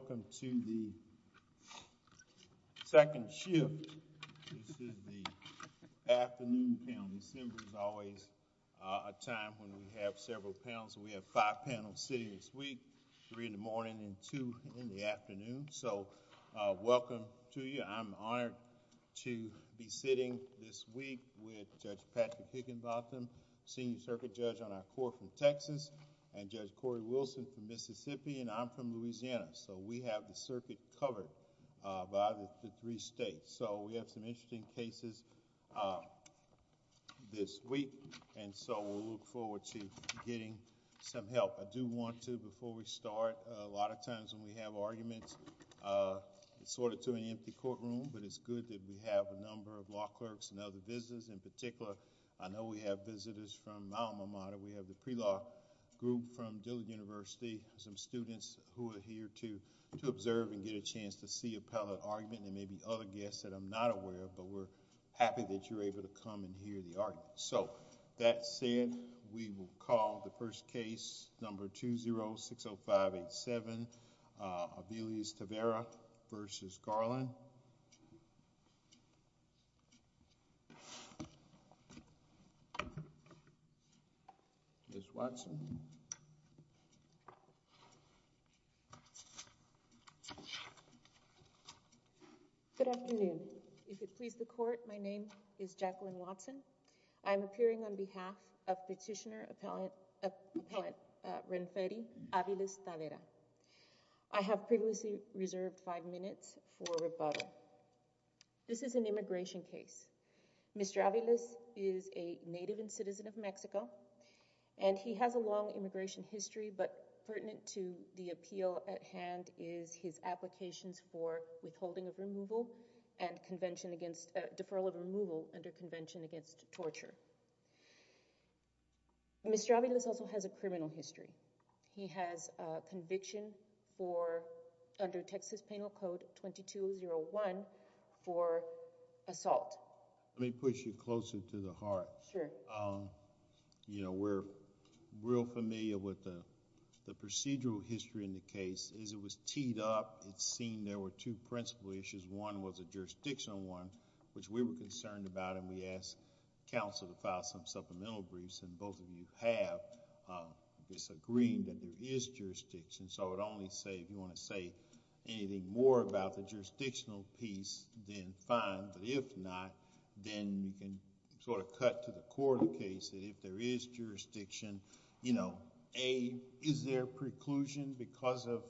Welcome to the second shift. This is the afternoon panel. December is always a time when we have several panels. We have five panels sitting this week, three in the morning and two in the afternoon. So welcome to you. I'm honored to be sitting this week with Judge Patrick Higginbotham, Senior Circuit Judge on our court from Texas, and Judge Cory Wilson from We have the circuit covered by the three states. So we have some interesting cases this week, and so we'll look forward to getting some help. I do want to, before we start, a lot of times when we have arguments, sort it to an empty courtroom, but it's good that we have a number of law clerks and other visitors. In particular, I know we have visitors from to observe and get a chance to see appellate argument. There may be other guests that I'm not aware of, but we're happy that you're able to come and hear the argument. So that said, we will call the first case, number 2060587, Aviles-Tavera v. Garland. Ms. Watson. Good afternoon. If it please the court, my name is Jacqueline Watson. I'm appearing on behalf of Petitioner Appellant Renferi, Aviles-Tavera. I have previously reserved five minutes for rebuttal. This is an immigration case. Mr. Aviles is a native and citizen of Mexico, and he has a long immigration history, but pertinent to the appeal at hand is his applications for withholding of removal and deferral of removal under Convention Against Torture. Mr. Aviles also has a criminal history. He has a conviction for, under Texas Penal Code 2201, for assault. Let me push you closer to the heart. Sure. We're real familiar with the procedural history in the case. As it was teed up, it's seen there were two principal issues. One was a jurisdictional one, which we were concerned about, and we asked counsel to file some supplemental briefs, and both of you have disagreed that there is jurisdiction. I would only say, if you want to say anything more about the jurisdictional piece, then fine, but if not, then you can cut to the core of the case. If there is jurisdiction, is there preclusion because of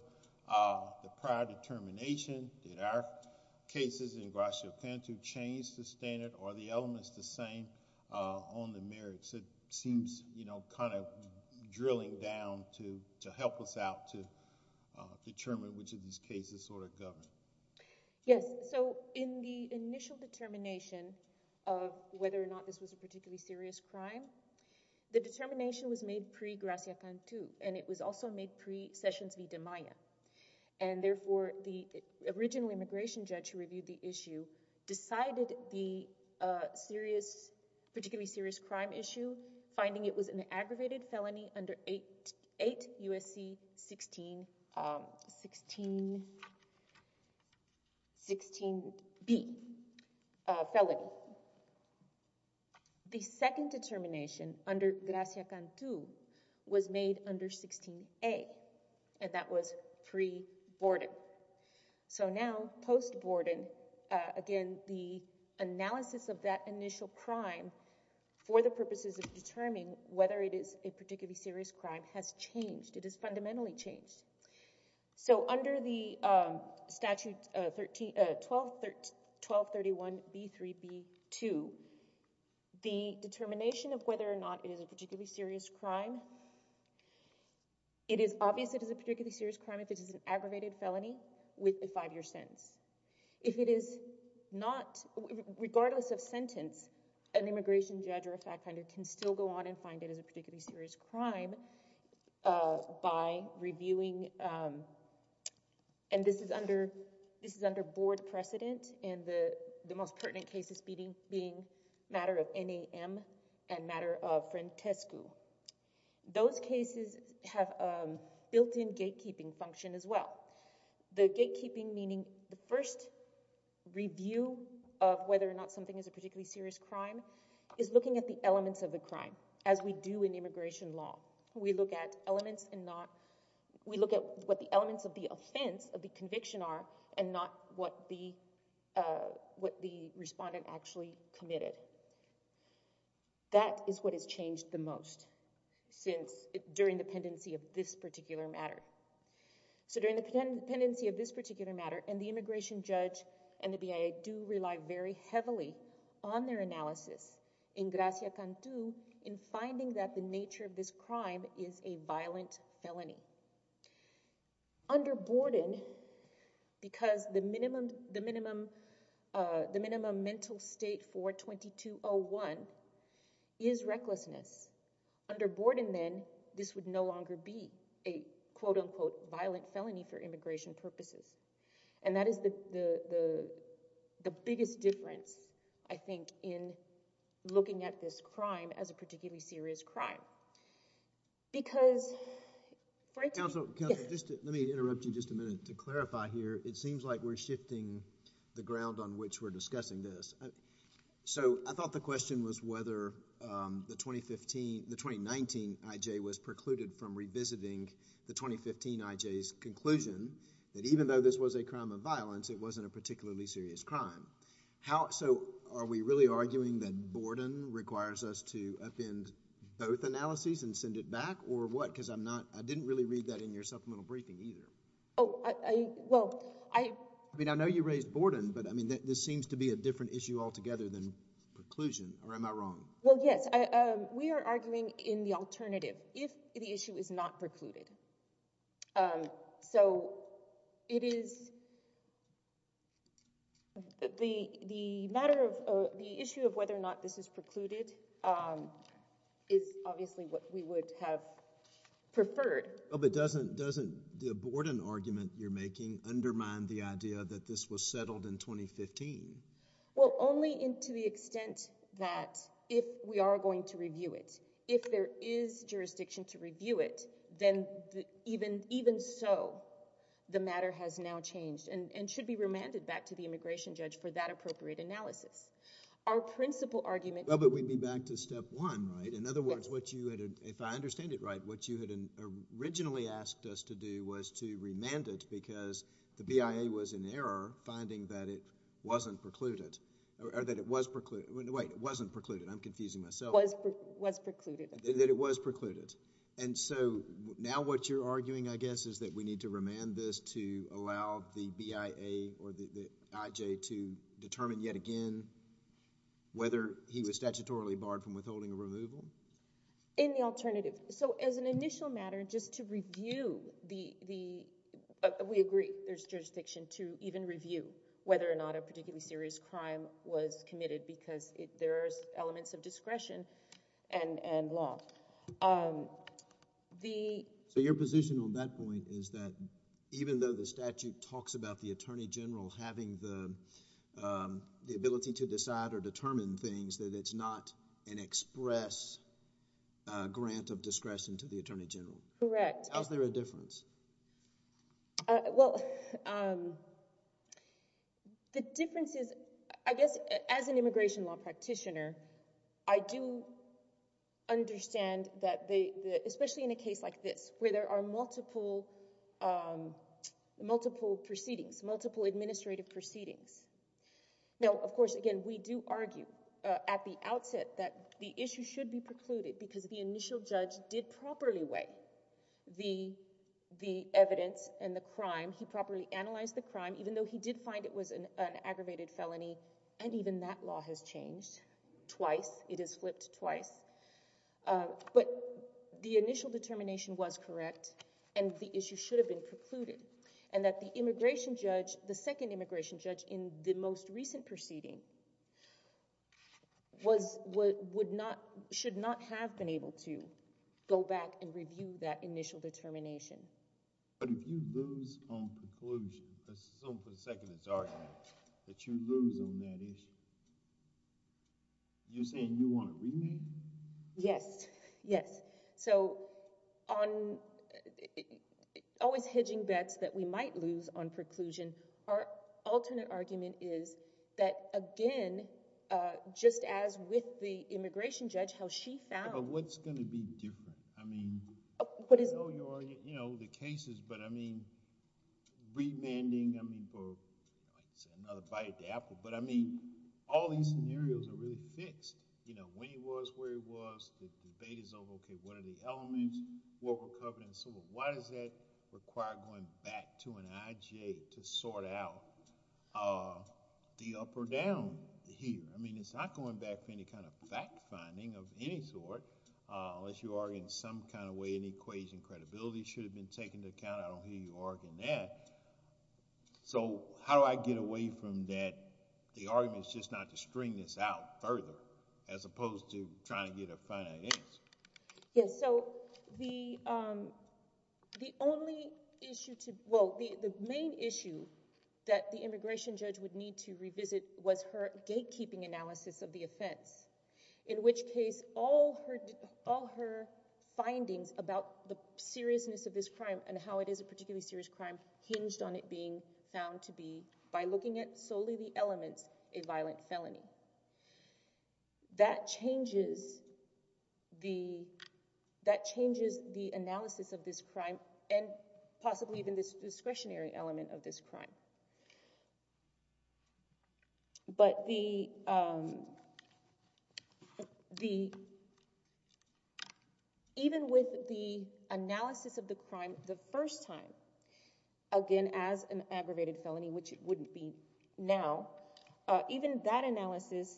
the prior determination? Did our cases in Guaixo-Canto change the standard, or are the elements the same on the merits? It seems kind of drilling down to help us out to determine which of these cases sort of govern. Yes. In the initial determination of whether or not this was a particularly serious crime, the determination was made pre-Guaixo-Canto, and it was also made pre-Sessions v. De Maya, and therefore, the original immigration judge who reviewed the issue decided the particularly serious crime issue, finding it was an aggravated felony under 8 U.S.C. 16-B felony. The second determination under Gracia-Canto was made under 16-A, and that was pre-Borden. So now, post-Borden, again, the analysis of that initial crime for the purposes of determining whether it is a particularly serious crime has changed. It has fundamentally changed. So under the statute 1231-B3-B2, the determination of whether or not it is a particularly serious crime, it is obvious it is a particularly serious crime if it is an aggravated felony with a five-year sentence. If it is not, regardless of sentence, an immigration judge or a fact finder can still go on and find it as a particularly serious crime by reviewing, and this is under board precedent, and the most pertinent cases being matter of NAM and matter of Frantescu. Those cases have a built-in gatekeeping function as well. The gatekeeping meaning the first review of whether or not something is a particularly serious crime is looking at the elements of the crime, as we do in immigration law. We look at elements and not, we look at what the elements of the offense, of the conviction are, and not what the respondent actually committed. That is what has changed the most since, during the pendency of this particular matter. So during the pendency of this particular matter, and the immigration judge and the BIA do rely very heavily on their analysis in Gracia Cantu in finding that the nature of this crime is a violent felony. And so, in summary, if a person is convicted in 2020-01 is recklessness, under board, and then this would no longer be a quote-unquote violent felony for immigration purposes. And that is the biggest difference, I think, in looking at this crime as a particularly serious crime. Because… Counsel, counsel, just let me interrupt you just a minute to clarify here. It I thought the question was whether the 2019 I.J. was precluded from revisiting the 2015 I.J.'s conclusion that even though this was a crime of violence, it wasn't a particularly serious crime. So, are we really arguing that Borden requires us to offend both analyses and send it back, or what? Because I'm not… I didn't really read that in your supplemental briefing either. Oh, well, I… I mean, I know you raised Borden, but I mean, this seems to be a different issue altogether than preclusion, or am I wrong? Well, yes. We are arguing in the alternative if the issue is not precluded. So, it is… the matter of… the issue of whether or not this is precluded is obviously what we would have preferred. Oh, but doesn't… doesn't the Borden argument you're making undermine the idea that this was settled in 2015? Well, only to the extent that if we are going to review it, if there is jurisdiction to review it, then even… even so, the matter has now changed and should be remanded back to the immigration judge for that appropriate analysis. Our principal argument… Well, but we'd be back to step one, right? In other words, what you had… if I understand it right, what you had originally asked us to do was to remand it because the BIA was in error finding that it wasn't precluded, or that it was precluded. Wait, it wasn't precluded. I'm confusing myself. Was… was precluded. That it was precluded. And so, now what you're arguing, I guess, is that we need to remand this to allow the BIA or the IJ to determine yet again whether he was statutorily barred from withholding a removal? In the alternative. So, as an initial matter, just to review the… we agree there's jurisdiction to even review whether or not a particularly serious crime was committed because there are elements of discretion and law. The… So, your position on that point is that even though the statute talks about the attorney general having the ability to decide or determine things, that it's not an express grant of jurisdiction. Correct. How's there a difference? Well, the difference is, I guess, as an immigration law practitioner, I do understand that they… especially in a case like this, where there are multiple… multiple proceedings, multiple administrative proceedings. Now, of course, again, we do argue at the outset that the issue should be precluded because the initial judge did properly weigh the… the evidence and the crime. He properly analyzed the crime, even though he did find it was an aggravated felony. And even that law has changed twice. It is flipped twice. But the initial determination was correct and the issue should have been precluded. And that the immigration judge… the second immigration judge in the most recent proceeding was… would not… should not have been able to go back and review that initial determination. But if you lose on preclusion, because someone put a second as argument, that you lose on that issue, you're saying you want a remand? Yes. Yes. So, on… always hedging bets that we might lose on preclusion, our alternate argument is that, again, just as with the immigration judge, how she found… But what's going to be different? I mean, I know you're… you know, the cases, but I mean, remanding, I mean, for another bite of the apple, but I mean, all these scenarios are really fixed. You know, when he was, where he was, the debate is over, okay, what are the elements, what we're covering, so why does that require going back to an IGA to sort out the up or down here? I mean, it's not going back for any kind of fact finding of any sort, unless you are in some kind of way, an equation, credibility should have been taken into account. I don't hear you arguing that. So, how do I get away from that? The argument is just not to string this out further, as opposed to trying to get a final answer. Yes. So, the only issue to… well, the main issue that the immigration judge would need to revisit was her gatekeeping analysis of the offense, in which case all her findings about the seriousness of this crime and how it is a particularly serious crime hinged on it being found to be, by looking at solely the elements, a violent felony. That changes the, that changes the analysis of this crime, and possibly even this discretionary element of this crime. But the, the, even with the analysis of the crime the first time, again, as an aggravated felony, which it wouldn't be now, even that analysis,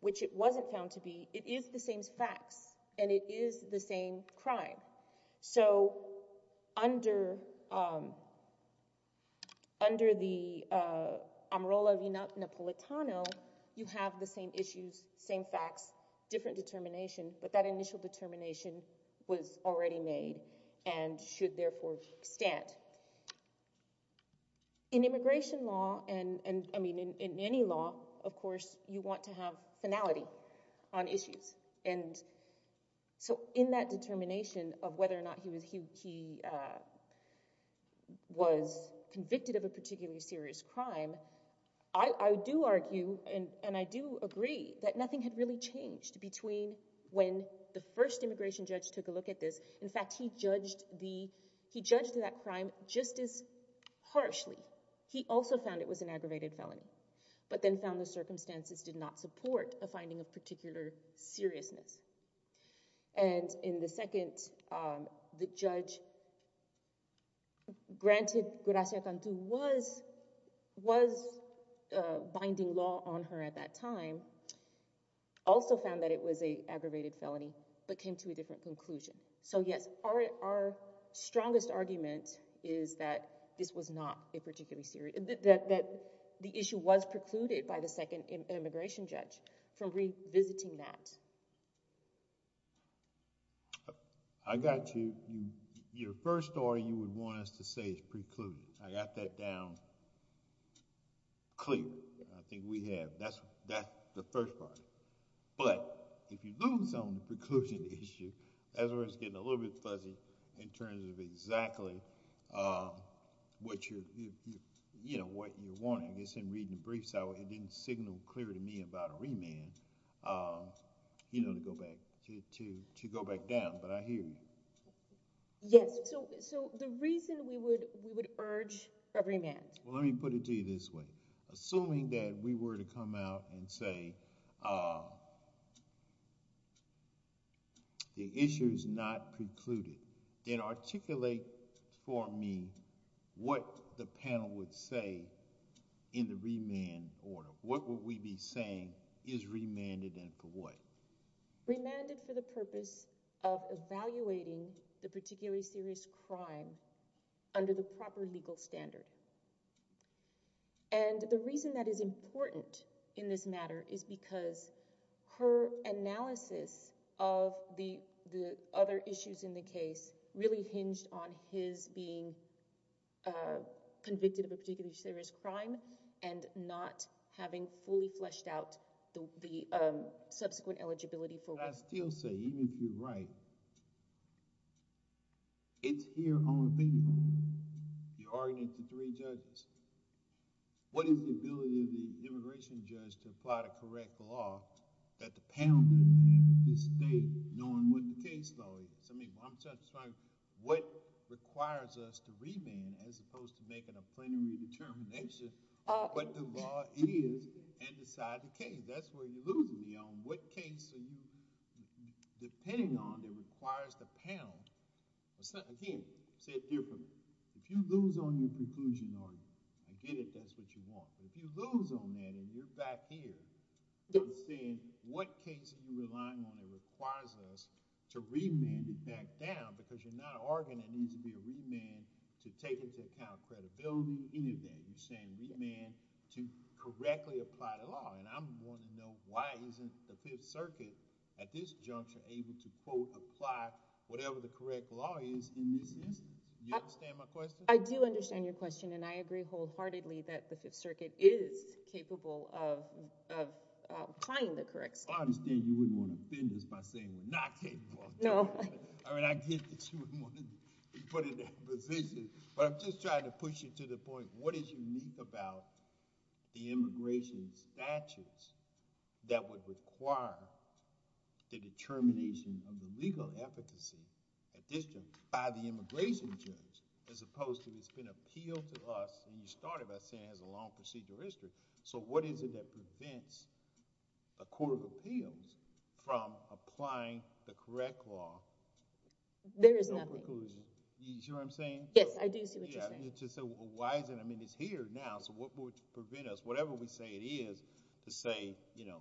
which it wasn't found to be, it is the same facts, and it is the same crime. So, under, under the Amarola v Napolitano, you have the same issues, same facts, different determination, but that initial determination was already made and should therefore stand. In immigration law, and, and, I mean, in any law, of course, you want to have finality on issues. And so, in that determination of whether or not he was, he, he was convicted of a particularly serious crime, I, I do argue, and, and I do agree that nothing had really changed between when the first immigration judge took a look at this. In fact, he judged the, he judged that crime just as harshly. He also found it was an aggravated felony, but then found the circumstances did not support a finding of particular seriousness. And in the second, the judge granted Gracia Cantu was, was binding law on her at that time, also found that it was a aggravated felony, but came to a different conclusion. So, yes, our, our strongest argument is that this was not a particularly serious, that, that the issue was precluded by the second immigration judge from revisiting that. I got you. Your first story you would want us to say is precluded. I got that down clear. I think we have. That's, that's the first part. But if you lose on the preclusion issue, that's where it's getting a little bit fuzzy in terms of exactly what you're, you know, what you're wanting. I guess in reading the briefs, it didn't signal clear to me about a remand, you know, to go back to, to, to go back down. But I hear you. Yes. So, so the reason we would, we would urge a remand. Well, let me put it to you this way. Assuming that we were to come out and say, uh, the issue is not precluded, then articulate for me what the panel would say in the remand order. What would we be saying is remanded and for what? Remanded for the purpose of evaluating the particularly serious crime under the proper legal standard. And the reason that is important in this matter is because her analysis of the, the other issues in the case really hinged on his being, uh, convicted of a particularly serious crime and not having fully fleshed out the, the, um, subsequent eligibility. But I still say, even if you're right, it's here on the table, the argument of the three judges. What is the ability of the immigration judge to apply the correct law that the panel doesn't have in this state, knowing what the case law is? I mean, I'm just trying to, what requires us to remand as opposed to making a plenary determination of what the law is and decide the case. That's where you're losing me on what case are you depending on that requires the panel. Again, say it differently. If you lose on your conclusion argument, I get it, that's what you want. But if you lose on that and you're back here saying what case are you relying on that requires us to remand it back down because you're not arguing there needs to be a remand to take into account credibility, any of that. Remand to correctly apply the law. And I'm going to know why isn't the Fifth Circuit at this juncture able to quote, apply whatever the correct law is in this instance. You understand my question? I do understand your question. And I agree wholeheartedly that the Fifth Circuit is capable of applying the correct state. I understand you wouldn't want to offend us by saying we're not capable. No. I mean, I get that you wouldn't want to be put in that position, but I'm just trying to push it to the point. What is unique about the immigration statutes that would require the determination of the legal efficacy at this time by the immigration judge, as opposed to it's been appealed to us and you started by saying has a long procedural history. So what is it that prevents a court of appeals from applying the correct law? There is nothing. You sure I'm saying? Yes, I do see what you're saying. Why is it? I mean, it's here now. So what would prevent us, whatever we say it is, to say, you know,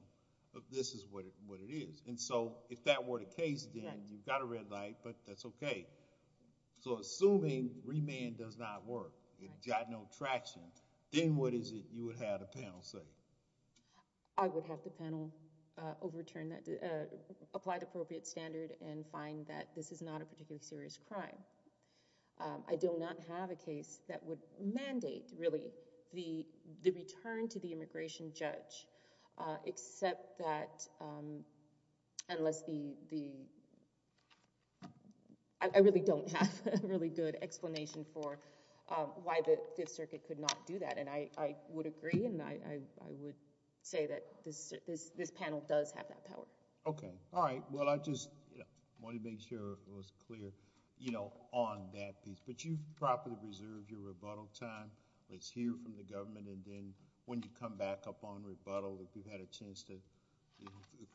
this is what it is. And so if that were the case, then you've got a red light, but that's okay. So assuming remand does not work, it got no traction, then what is it you would have the panel say? I would have the panel overturn that, apply the appropriate standard and find that this is not a particularly serious crime. I do not have a case that would mandate really the return to the immigration judge, except that unless the... I really don't have a really good explanation for why the Fifth Circuit could not do that. And I would agree and I would say this panel does have that power. Okay. All right. Well, I just want to make sure it was clear, you know, on that piece. But you've properly reserved your rebuttal time. Let's hear from the government and then when you come back up on rebuttal, if you've had a chance to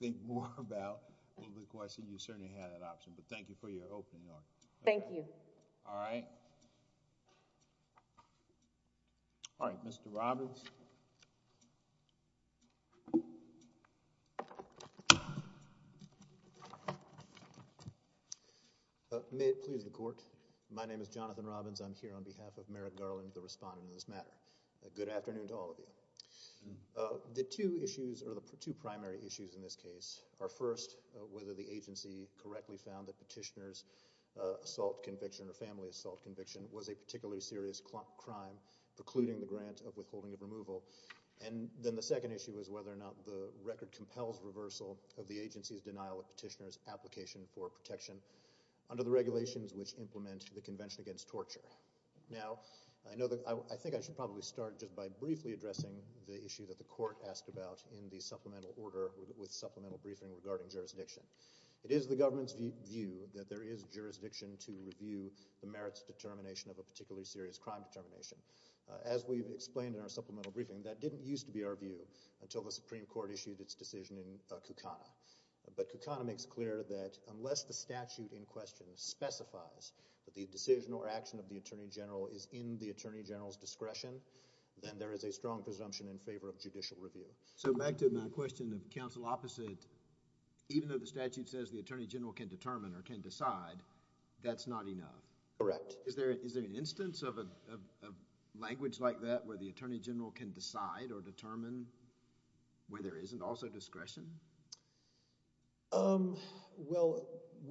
think more about the question, you certainly have that option. But thank you for your opening argument. Thank you. All right. All right. Mr. Robbins. May it please the Court. My name is Jonathan Robbins. I'm here on behalf of Merrick Garland, the respondent in this matter. Good afternoon to all of you. The two issues, or the two primary issues in this case, are first, whether the agency correctly found that petitioner's assault conviction or family assault conviction was a particularly serious crime precluding the grant of withholding of removal. And then the second issue is whether or not the record compels reversal of the agency's denial of petitioner's application for protection under the regulations which implement the Convention Against Torture. Now, I know that... I think I should probably start just by briefly addressing the issue that the Court asked about in the supplemental order with supplemental briefing regarding jurisdiction. It is the government's view that there is jurisdiction to review the merits determination of a particularly serious crime determination. As we've explained in our supplemental briefing, that didn't used to be our view until the Supreme Court issued its decision in Kukana. But Kukana makes clear that unless the statute in question specifies that the decision or action of the Attorney General is in the Attorney General's discretion, then there is a strong presumption in favor of judicial review. So back to my question of counsel opposite, even though the statute says the Attorney General can determine or can decide, that's not enough? Correct. Is there an instance of a language like that where the Attorney General can decide or determine where there isn't also discretion? Well,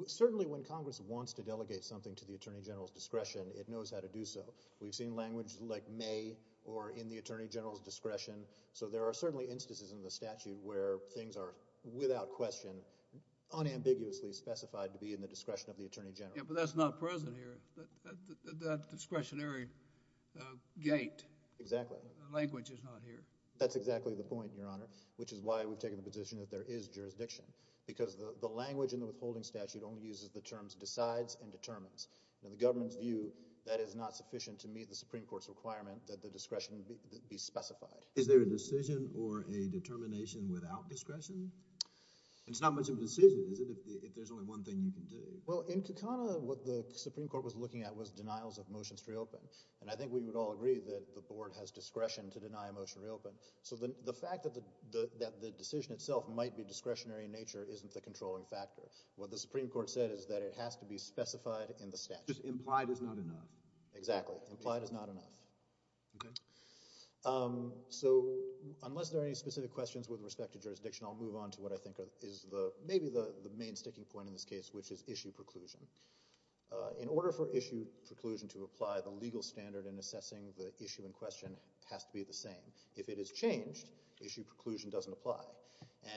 certainly when Congress wants to delegate something to the Attorney General's discretion, it knows how to do so. We've seen language like may or in the Attorney General's discretion. So there are certainly instances in the statute where things are without question unambiguously specified to be in the discretion of the Attorney General. Yeah, but that's not present here. That discretionary gate. Exactly. Language is not here. That's exactly the point, Your Honor, which is why we've taken the position that there is jurisdiction. Because the language in the withholding statute only uses the terms decides and determines. In the government's view, that is not sufficient to meet the Supreme Court's requirement that the discretion be specified. Is there a decision or a determination without discretion? It's not much of a decision, is it, if there's only one thing you can do? Well, in Kakana, what the Supreme Court was looking at was denials of motions to reopen. And I think we would all agree that the board has discretion to deny a motion to reopen. So the fact that the decision itself might be discretionary in nature isn't the controlling factor. What the Supreme Court said is that it has to be specified in the statute. Implied is not enough. Exactly. Implied is not enough. So unless there are any specific questions with respect to jurisdiction, I'll move on to what I think is maybe the main sticking point in this case, which is issue preclusion. In order for issue preclusion to apply, the legal standard in assessing the issue in question has to be the same. If it is changed, issue preclusion doesn't apply.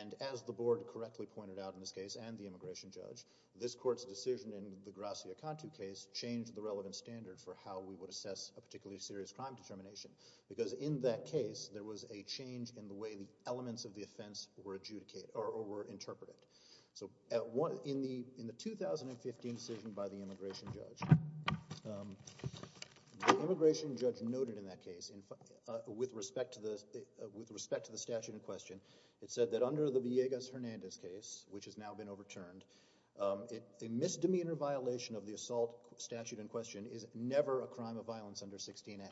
And as the board correctly pointed out in this case and the immigration judge, this court's decision in the Gracia-Contu case changed the relevant standard for how we would assess a particularly serious crime determination. Because in that case, there was a change in the way the elements of the offense were interpreted. So in the 2015 decision by the immigration judge, the immigration judge noted in that case, with respect to the statute in question, it said that under the Villegas-Hernandez case, which has now been overturned, a misdemeanor violation of the assault statute in question is never a crime of violence under 16A.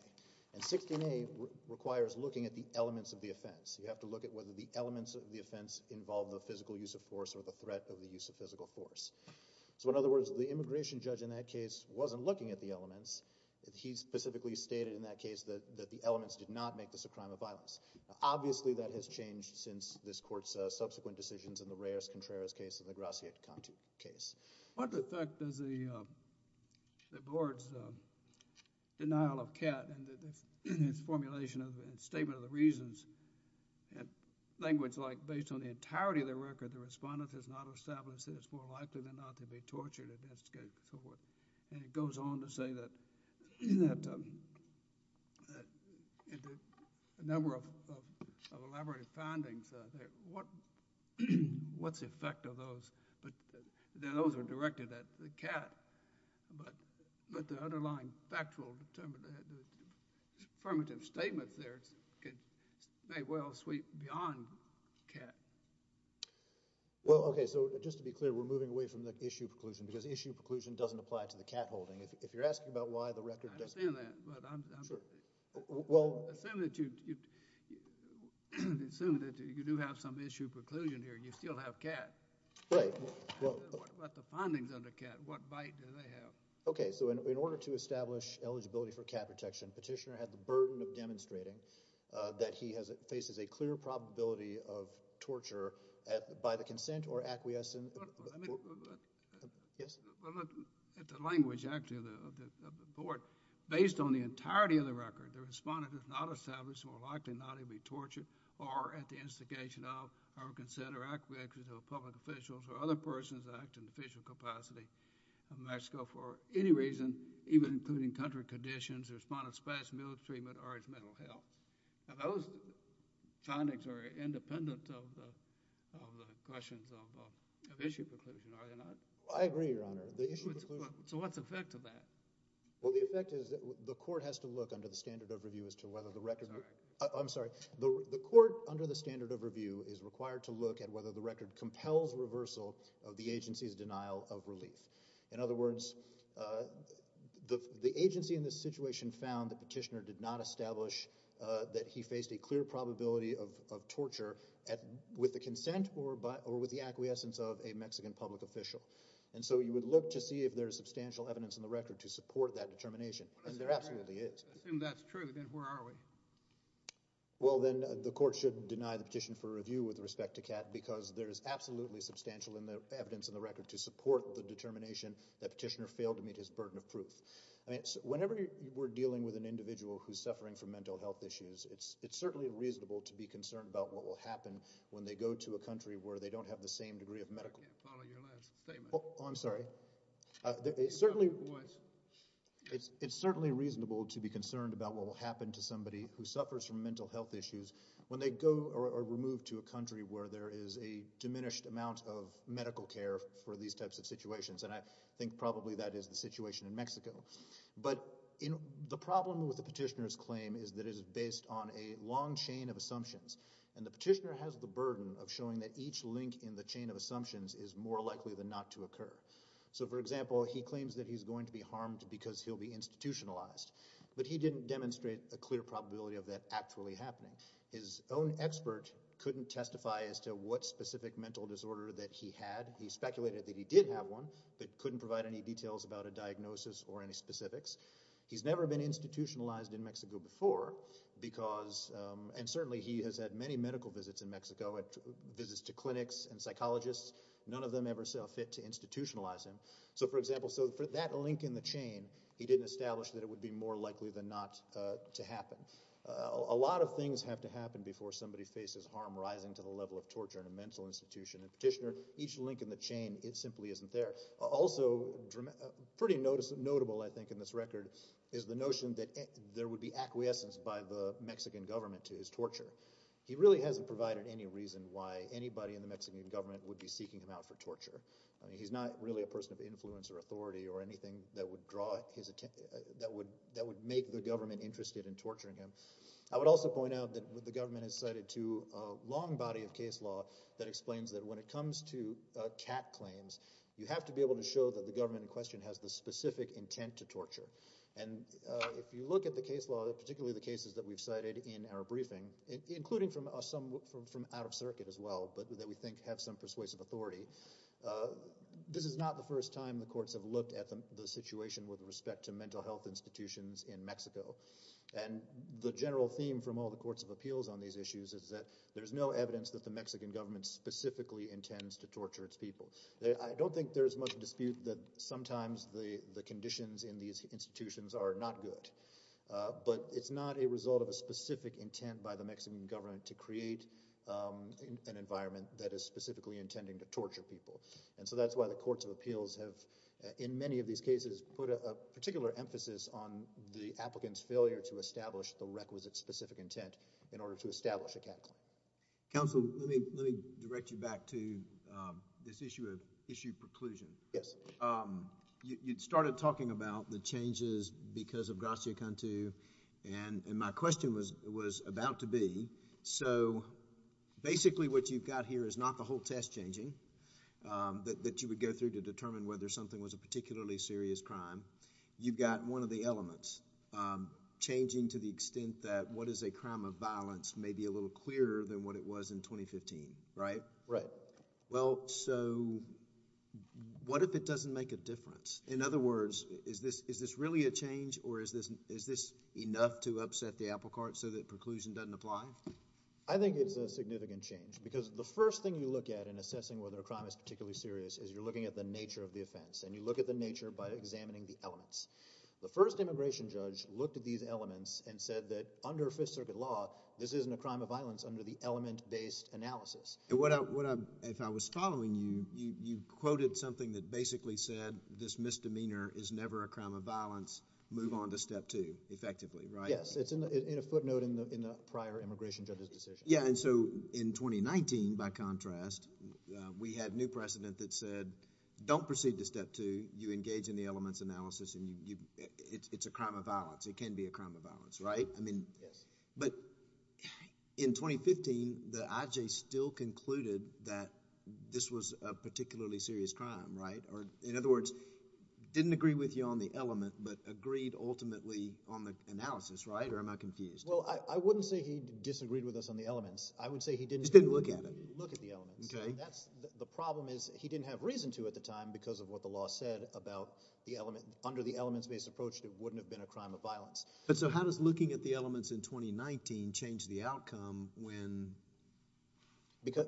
And 16A requires looking at the elements of the offense. You have to look at whether the elements of the offense involve the physical use of force or the threat of the use of physical force. So in other words, the immigration judge in that case wasn't looking at the elements. He specifically stated in that case that the elements did not make this a crime of violence. Obviously, that has changed since this court's subsequent decisions in the Gracia-Contu case. What effect does the board's denial of CAT and its formulation and statement of the reasons, language like, based on the entirety of the record, the respondent has not established that it's more likely than not to be tortured, and it goes on to say that in the number of elaborated findings, what's the effect of those? Those are directed at the CAT, but the underlying factual affirmative statements there may well sweep beyond CAT. Well, okay, so just to be clear, we're moving away from the issue preclusion because issue preclusion doesn't apply to the CAT holding. If you're asking about why the record doesn't— I understand that, but I'm assuming that you do have some issue preclusion here, and you still have CAT. What about the findings under CAT? What bite do they have? Okay, so in order to establish eligibility for CAT protection, Petitioner had the burden of demonstrating that he faces a clear probability of torture by the consent or acquiescence— Well, look, at the language, actually, of the board, based on the entirety of the record, the respondent has not established it's more likely than not to be tortured or at the instigation of our consent or acquiescence of public officials or other persons that act in the official capacity of Mexico for any reason, even including country conditions. The respondent's past military treatment or his mental health. Now, those findings are independent of the questions of issue preclusion. So what's the effect of that? Well, the effect is that the court has to look under the standard of review as to whether the record— I'm sorry. The court, under the standard of review, is required to look at whether the record compels reversal of the agency's denial of relief. In other words, the agency in this situation found that Petitioner did not establish that he faced a clear probability of torture with the consent or with the acquiescence of a Mexican public official. And so you would look to see if there's substantial evidence in the record to support that determination, and there absolutely is. Assume that's true, then where are we? Well, then the court should deny the petition for review with respect to Kat because there's absolutely substantial evidence in the record to support the determination that Petitioner failed to meet his burden of proof. Whenever we're dealing with an individual who's suffering from when they go to a country where they don't have the same degree of medical— I can't follow your last statement. Oh, I'm sorry. It's certainly reasonable to be concerned about what will happen to somebody who suffers from mental health issues when they go or are removed to a country where there is a diminished amount of medical care for these types of situations, and I think probably that is the situation in Mexico. But the problem with the Petitioner's claim is that it is based on a long chain of assumptions, and the Petitioner has the burden of showing that each link in the chain of assumptions is more likely than not to occur. So, for example, he claims that he's going to be harmed because he'll be institutionalized, but he didn't demonstrate a clear probability of that actually happening. His own expert couldn't testify as to what specific mental disorder that he had. He speculated that he did have one, but couldn't provide any details about a diagnosis or any specifics. He's never been institutionalized in Mexico before because—and certainly he has had many medical visits in Mexico, visits to clinics and psychologists. None of them ever felt fit to institutionalize him. So, for example, for that link in the chain, he didn't establish that it would be more likely than not to happen. A lot of things have to happen before somebody faces harm rising to the level of torture in a mental institution, and Petitioner, each link in the record, is the notion that there would be acquiescence by the Mexican government to his torture. He really hasn't provided any reason why anybody in the Mexican government would be seeking him out for torture. He's not really a person of influence or authority or anything that would make the government interested in torturing him. I would also point out that the government has cited a long body of case law that explains that when it comes to CAT claims, you have to be able to show that the government in question has the specific intent to torture. And if you look at the case law, particularly the cases that we've cited in our briefing, including from out of circuit as well, but that we think have some persuasive authority, this is not the first time the courts have looked at the situation with respect to mental health institutions in Mexico. And the general theme from all the courts of appeals on these issues is that there's no evidence that the Mexican government specifically intends to torture its people. I don't think there's much dispute that sometimes the conditions in these institutions are not good, but it's not a result of a specific intent by the Mexican government to create an environment that is specifically intending to torture people. And so that's why the courts of appeals have, in many of these cases, put a particular emphasis on the applicant's failure to establish the requisite specific intent in order to establish a CAT claim. Counsel, let me direct you back to this issue of issue preclusion. Yes. You started talking about the changes because of Gracia Cantu, and my question was about to be, so basically what you've got here is not the whole test changing that you would go through to determine whether something was a particularly serious crime. You've got one of the elements changing to the extent that what is a crime of violence may be a little clearer than what it was in 2015, right? Right. Well, so what if it doesn't make a difference? In other words, is this really a change or is this enough to upset the apple cart so that preclusion doesn't apply? I think it's a significant change because the first thing you look at in assessing whether a crime is particularly serious is you're looking at the nature of the offense, and you look at nature by examining the elements. The first immigration judge looked at these elements and said that under Fifth Circuit law, this isn't a crime of violence under the element-based analysis. And if I was following you, you quoted something that basically said this misdemeanor is never a crime of violence. Move on to step two, effectively, right? Yes. It's in a footnote in the prior immigration judge's decision. Yeah, and so in 2019, by contrast, we had new precedent that said, don't proceed to step two. You engage in the elements analysis, and it's a crime of violence. It can be a crime of violence, right? Yes. But in 2015, the IJ still concluded that this was a particularly serious crime, right? Or, in other words, didn't agree with you on the element, but agreed ultimately on the analysis, right? Or am I confused? Well, I wouldn't say he disagreed with us on the elements. I would say he didn't... Just didn't look at it. Look at the elements. Okay. The problem is he didn't have reason to at the time because of what the law said about the element. Under the elements-based approach, it wouldn't have been a crime of violence. But so how does looking at the elements in 2019 change the outcome when...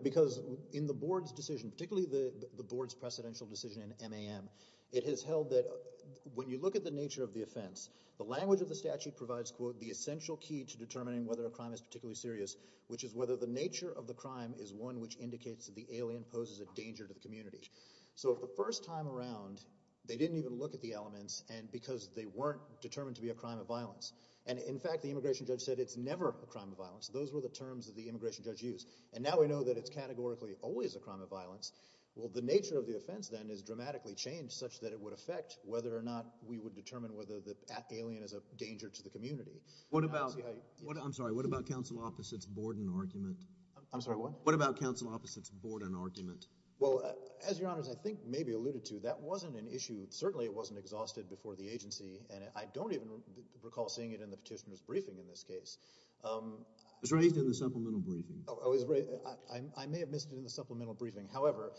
Because in the board's decision, particularly the board's precedential decision in MAM, it has held that when you look at the nature of the offense, the language of the statute provides, quote, the essential key to determining whether a crime is particularly serious, which is whether the nature of the crime is one which indicates that the alien poses a danger to the community. So the first time around, they didn't even look at the elements because they weren't determined to be a crime of violence. And in fact, the immigration judge said it's never a crime of violence. Those were the terms that the immigration judge used. And now we know that it's categorically always a crime of violence. Well, the nature of the offense then is dramatically changed such that it would affect whether or not we would determine whether the alien is a danger to the community. What about... I'm sorry. What about counsel opposite's Borden argument? I'm sorry, what? What about counsel opposite's Borden argument? Well, as Your Honors, I think maybe alluded to, that wasn't an issue. Certainly, it wasn't exhausted before the agency. And I don't even recall seeing it in the petitioner's briefing in this case. It was raised in the supplemental briefing. I may have missed it in the supplemental briefing. However,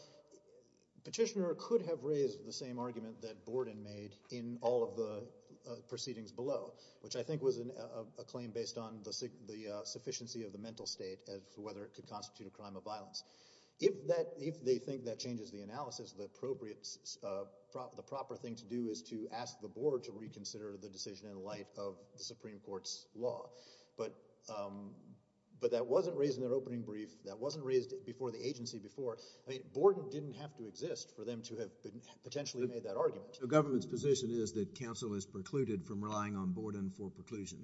petitioner could have raised the same argument that Borden made in all of the proceedings below, which I think was a claim based on the sufficiency of the mental state as to whether it could constitute a crime of violence. If they think that changes the analysis, the proper thing to do is to ask the board to reconsider the decision in light of the Supreme Court's law. But that wasn't raised in their opening brief. That wasn't raised before the agency before. I mean, Borden didn't have to exist for them to have potentially made that argument. The government's position is that counsel is precluded from relying on Borden for preclusion.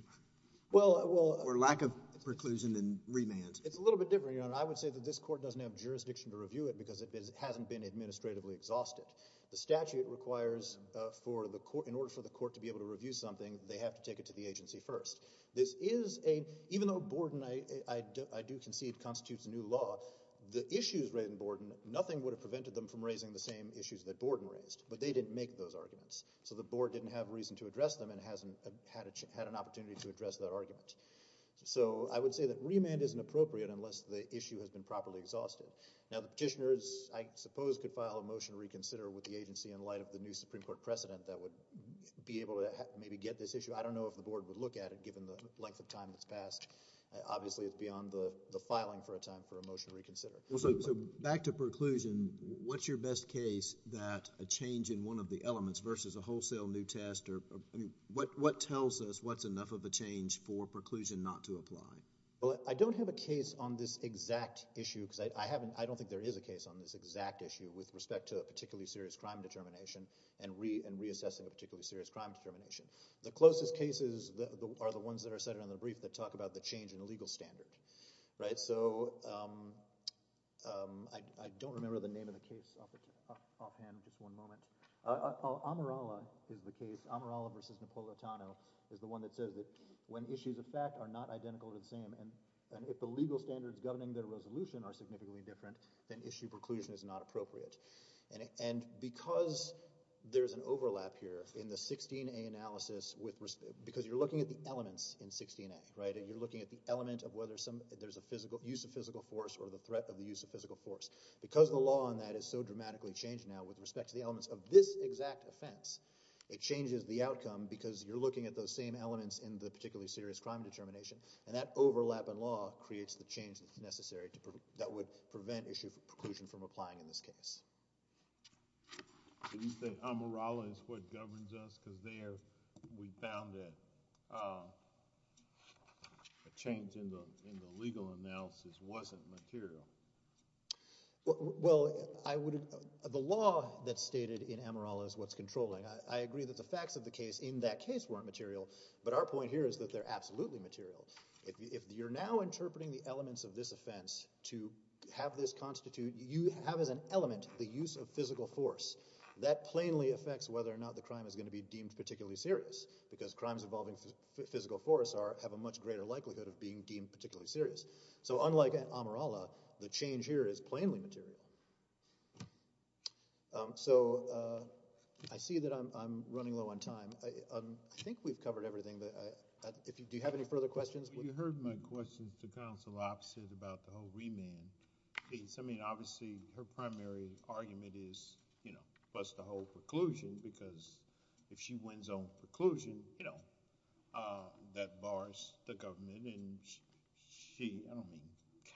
Well, well. Or lack of preclusion and remand. It's a little bit different, Your Honor. I would say that this court doesn't have jurisdiction to review it because it hasn't been administratively exhausted. The statute requires for the court, in order for the court to be able to review something, they have to take it to the agency first. This is a, even though Borden, I do concede, constitutes a new law, the issues raised in Borden, nothing would have prevented them from raising the same issues that Borden raised. But they didn't make those arguments. So the board didn't have reason to address them and hasn't had an opportunity to address that argument. So I would say that remand isn't appropriate unless the issue has been properly exhausted. Now, the petitioners, I suppose, could file a motion to reconsider with the agency in light of the new Supreme Court precedent that would be able to maybe get this issue. I don't know if the board would look at it, given the length of time that's passed. Obviously, it's beyond the filing for a time for a motion to reconsider. Back to preclusion, what's your best case that a change in one of the elements versus a wholesale new test or, I mean, what tells us what's enough of a change for preclusion not to apply? Well, I don't have a case on this exact issue because I haven't, I don't think there is a case on this exact issue with respect to a particularly serious crime determination and reassessing a particularly serious crime determination. The closest cases are the ones that are cited on I don't remember the name of the case offhand, just one moment. Amarala is the case. Amarala versus Napolitano is the one that says that when issues of fact are not identical or the same and if the legal standards governing their resolution are significantly different, then issue preclusion is not appropriate. And because there's an overlap here in the 16A analysis with, because you're looking at the elements in 16A, right? You're looking at the element of whether some, there's use of physical force or the threat of the use of physical force. Because the law on that is so dramatically changed now with respect to the elements of this exact offense, it changes the outcome because you're looking at those same elements in the particularly serious crime determination and that overlap in law creates the change that's necessary to, that would prevent issue of preclusion from applying in this case. Do you think Amarala is what governs us because there we found that a change in the legal analysis wasn't material? Well, I would, the law that's stated in Amarala is what's controlling. I agree that the facts of the case in that case weren't material, but our point here is that they're absolutely material. If you're now interpreting the elements of this offense to have this constitute, you have as an element the use of physical force. That plainly affects whether or not the crime is going to be particularly serious because crimes involving physical force are, have a much greater likelihood of being deemed particularly serious. So unlike Amarala, the change here is plainly material. So I see that I'm running low on time. I think we've covered everything. Do you have any further questions? You heard my questions to counsel opposite about the whole remand case. I mean, preclusion, you know, that bars the government and she, I don't mean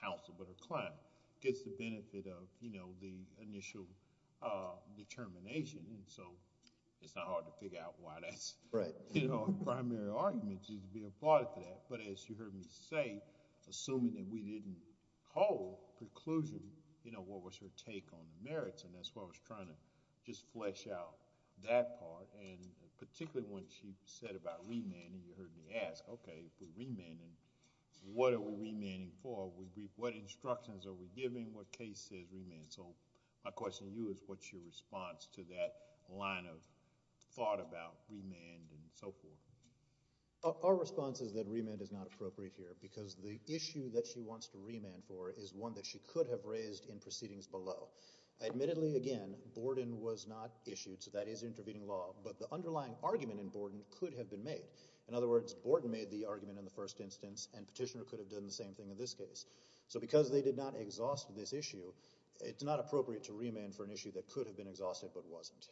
counsel, but a client, gets the benefit of, you know, the initial determination. And so it's not hard to figure out why that's, you know, primary argument is to be a part of that. But as you heard me say, assuming that we didn't hold preclusion, you know, what was her take on the merits, and as far as trying to just flesh out that part, and particularly when she said about remanding, you heard me ask, okay, if we're remanding, what are we remanding for? What instructions are we giving? What case says remand? So my question to you is what's your response to that line of thought about remand and so forth? Our response is that remand is not appropriate here because the issue that she wants to remand for is one that she could have raised in proceedings below. Admittedly, again, Borden was not issued, so that is intervening law, but the underlying argument in Borden could have been made. In other words, Borden made the argument in the first instance, and Petitioner could have done the same thing in this case. So because they did not exhaust this issue, it's not appropriate to remand for an issue that could have been exhausted, but wasn't.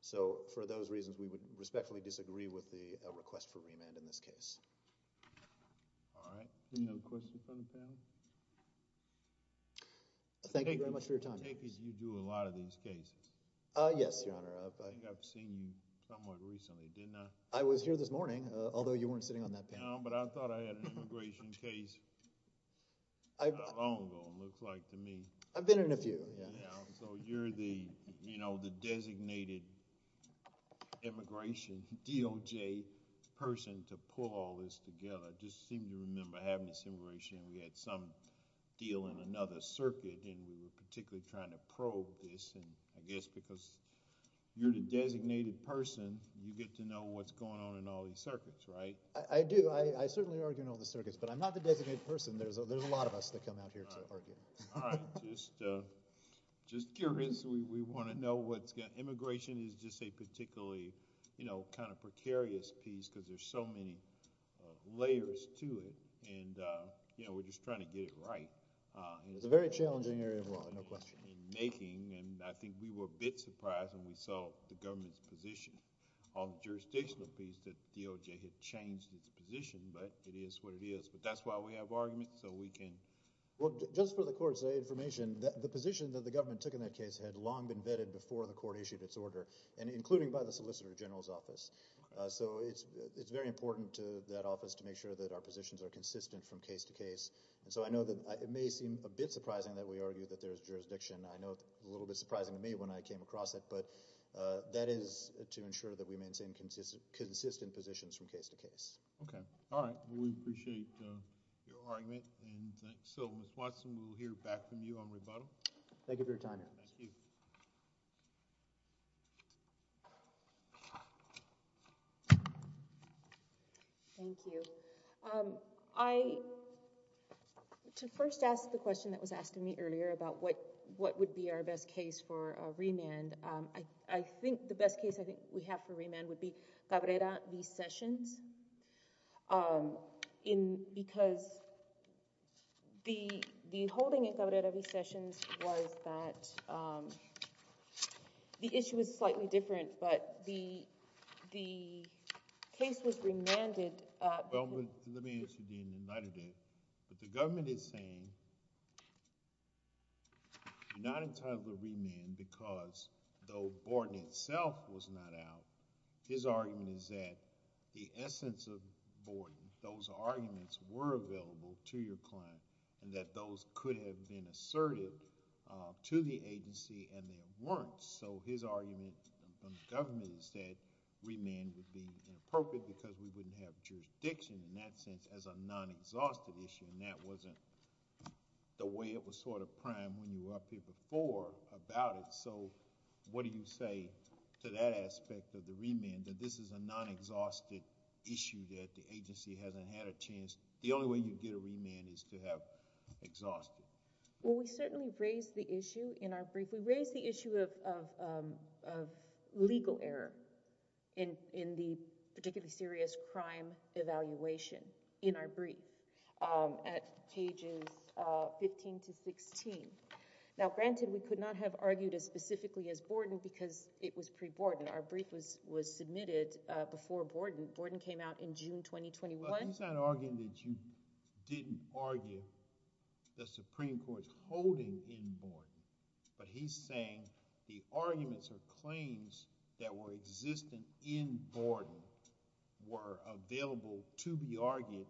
So for those reasons, we would respectfully disagree with the request for Thank you very much for your time. I take it you do a lot of these cases? Yes, Your Honor. I think I've seen you somewhat recently, didn't I? I was here this morning, although you weren't sitting on that panel. No, but I thought I had an immigration case not long ago, it looks like to me. I've been in a few, yeah. So you're the designated immigration DOJ person to pull all this together. I just seem to remember having this immigration, and we had some deal in another circuit, and we were particularly concerned about that. And we were particularly trying to probe this, and I guess because you're the designated person, you get to know what's going on in all these circuits, right? I do. I certainly argue in all the circuits, but I'm not the designated person. There's a lot of us that come out here to argue. All right. Just curious. We want to know what's going on. Immigration is just a particularly, you know, kind of precarious piece, because there's so many layers to it, and, you know, we're just trying to get it right. It's a very challenging area of law, no question. In making, and I think we were a bit surprised when we saw the government's position on the jurisdictional piece that DOJ had changed its position, but it is what it is. But that's why we have arguments, so we can... Well, just for the court's information, the position that the government took in that case had long been vetted before the court issued its order, and including by the Solicitor General's office. So it's very important to that office to make sure that our positions are consistent from case to case. And so I know that it may seem a bit surprising that we argue that there's jurisdiction. I know it was a little bit surprising to me when I came across it, but that is to ensure that we maintain consistent positions from case to case. Okay. All right. We appreciate your argument. And so, Ms. Watson, we'll hear back from you on rebuttal. Thank you for your time. Thank you. Thank you. I... To first ask the question that was asked of me earlier about what would be our best case for remand, I think the best case I think we have for remand would be Cabrera v. Sessions. Because the holding in Cabrera v. Sessions was that the issue was slightly different, but the case was remanded... The essence of Vorden, those arguments were available to your client, and that those could have been assertive to the agency and they weren't. So his argument from the government is that remand would be inappropriate because we wouldn't have jurisdiction in that sense as a non-exhaustive issue. And that wasn't the way it was sort of primed when you were up here before about it. So what do you say to that aspect of the remand, that this is a non-exhaustive issue, that the agency hasn't had a chance? The only way you get a remand is to have exhaustive. Well, we certainly raised the issue in our brief. We raised the issue of legal error in the particularly serious crime evaluation in our brief at pages 15 to 16. Now, granted, we could not have argued as specifically as Vorden because it was pre-Vorden. Our brief was submitted before Vorden. Vorden came out in June 2021. Well, he's not arguing that you didn't argue the Supreme Court's holding in Vorden, but he's saying the arguments or claims that were existing in Vorden were available to be argued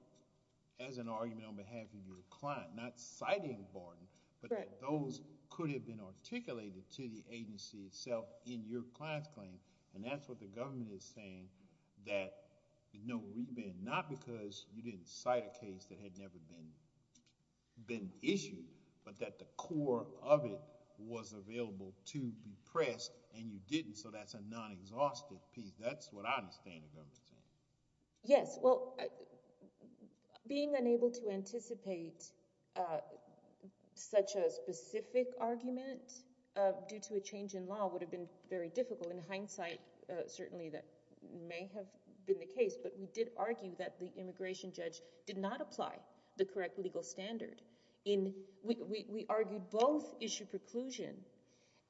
as an argument on behalf of your client, not citing Vorden, but those could have been articulated to the agency itself in your client's claim. And that's what the government is saying, that no remand, not because you didn't cite a case that had never been issued, but that the core of it was available to be pressed and you didn't, so that's a non-exhaustive piece. That's what I understand the government's saying. Yes, well, being unable to anticipate such a specific argument due to a change in law would have been very difficult. In hindsight, certainly that may have been the case, but we did argue that the immigration judge did not apply the correct legal standard. We argued both issue preclusion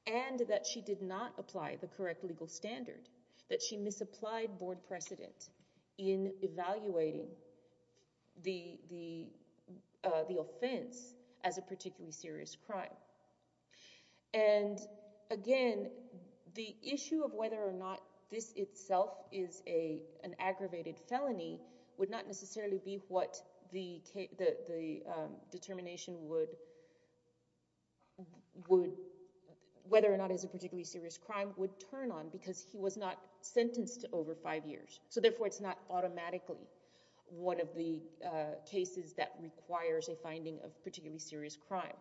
and that she did not apply the correct legal standard, that she misapplied board precedent in evaluating the offense as a particularly serious crime. And again, the issue of whether or not this itself is an aggravated felony would not necessarily be what the determination would, whether or not it's a particularly serious crime, would turn on because he was not sentenced to over five years. So therefore, it's not automatically one of the cases that requires a finding of particularly serious crime.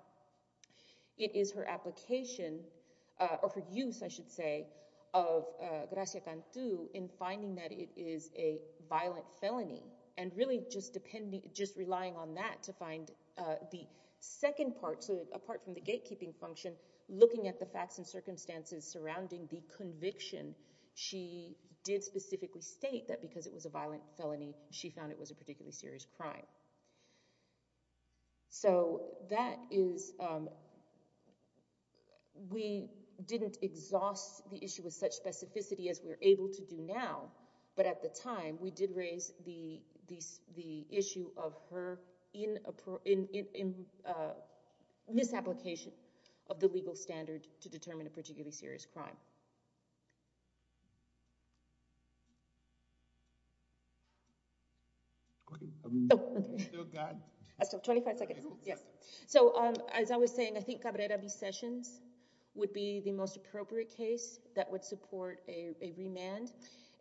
It is her application, or her use, I should say, of gracia cantu in finding that it is a violent felony and really just relying on that to find the second part, so apart from the gatekeeping function, looking at the facts and circumstances surrounding the conviction, she did specifically state that because it was a violent felony, she found it was a particularly serious crime. So that is, we didn't exhaust the issue with such specificity as we're able to do now, but at the time, we did raise the issue of her misapplication of the legal standard to determine a particularly serious crime. So as I was saying, I think Cabrera v. Sessions would be the most appropriate case that would support a remand.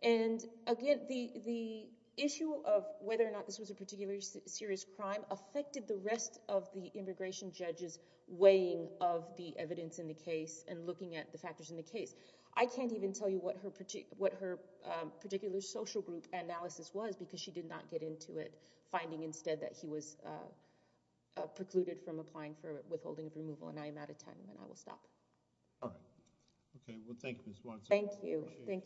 And again, the issue of whether or not this was a particularly serious crime affected the rest of the immigration judge's finding of the evidence in the case and looking at the factors in the case. I can't even tell you what her particular social group analysis was because she did not get into it, finding instead that he was precluded from applying for withholding of removal. And I am out of time, and I will stop. All right. Okay. Well, thank you, Ms. Watson. Thank you. Thank you.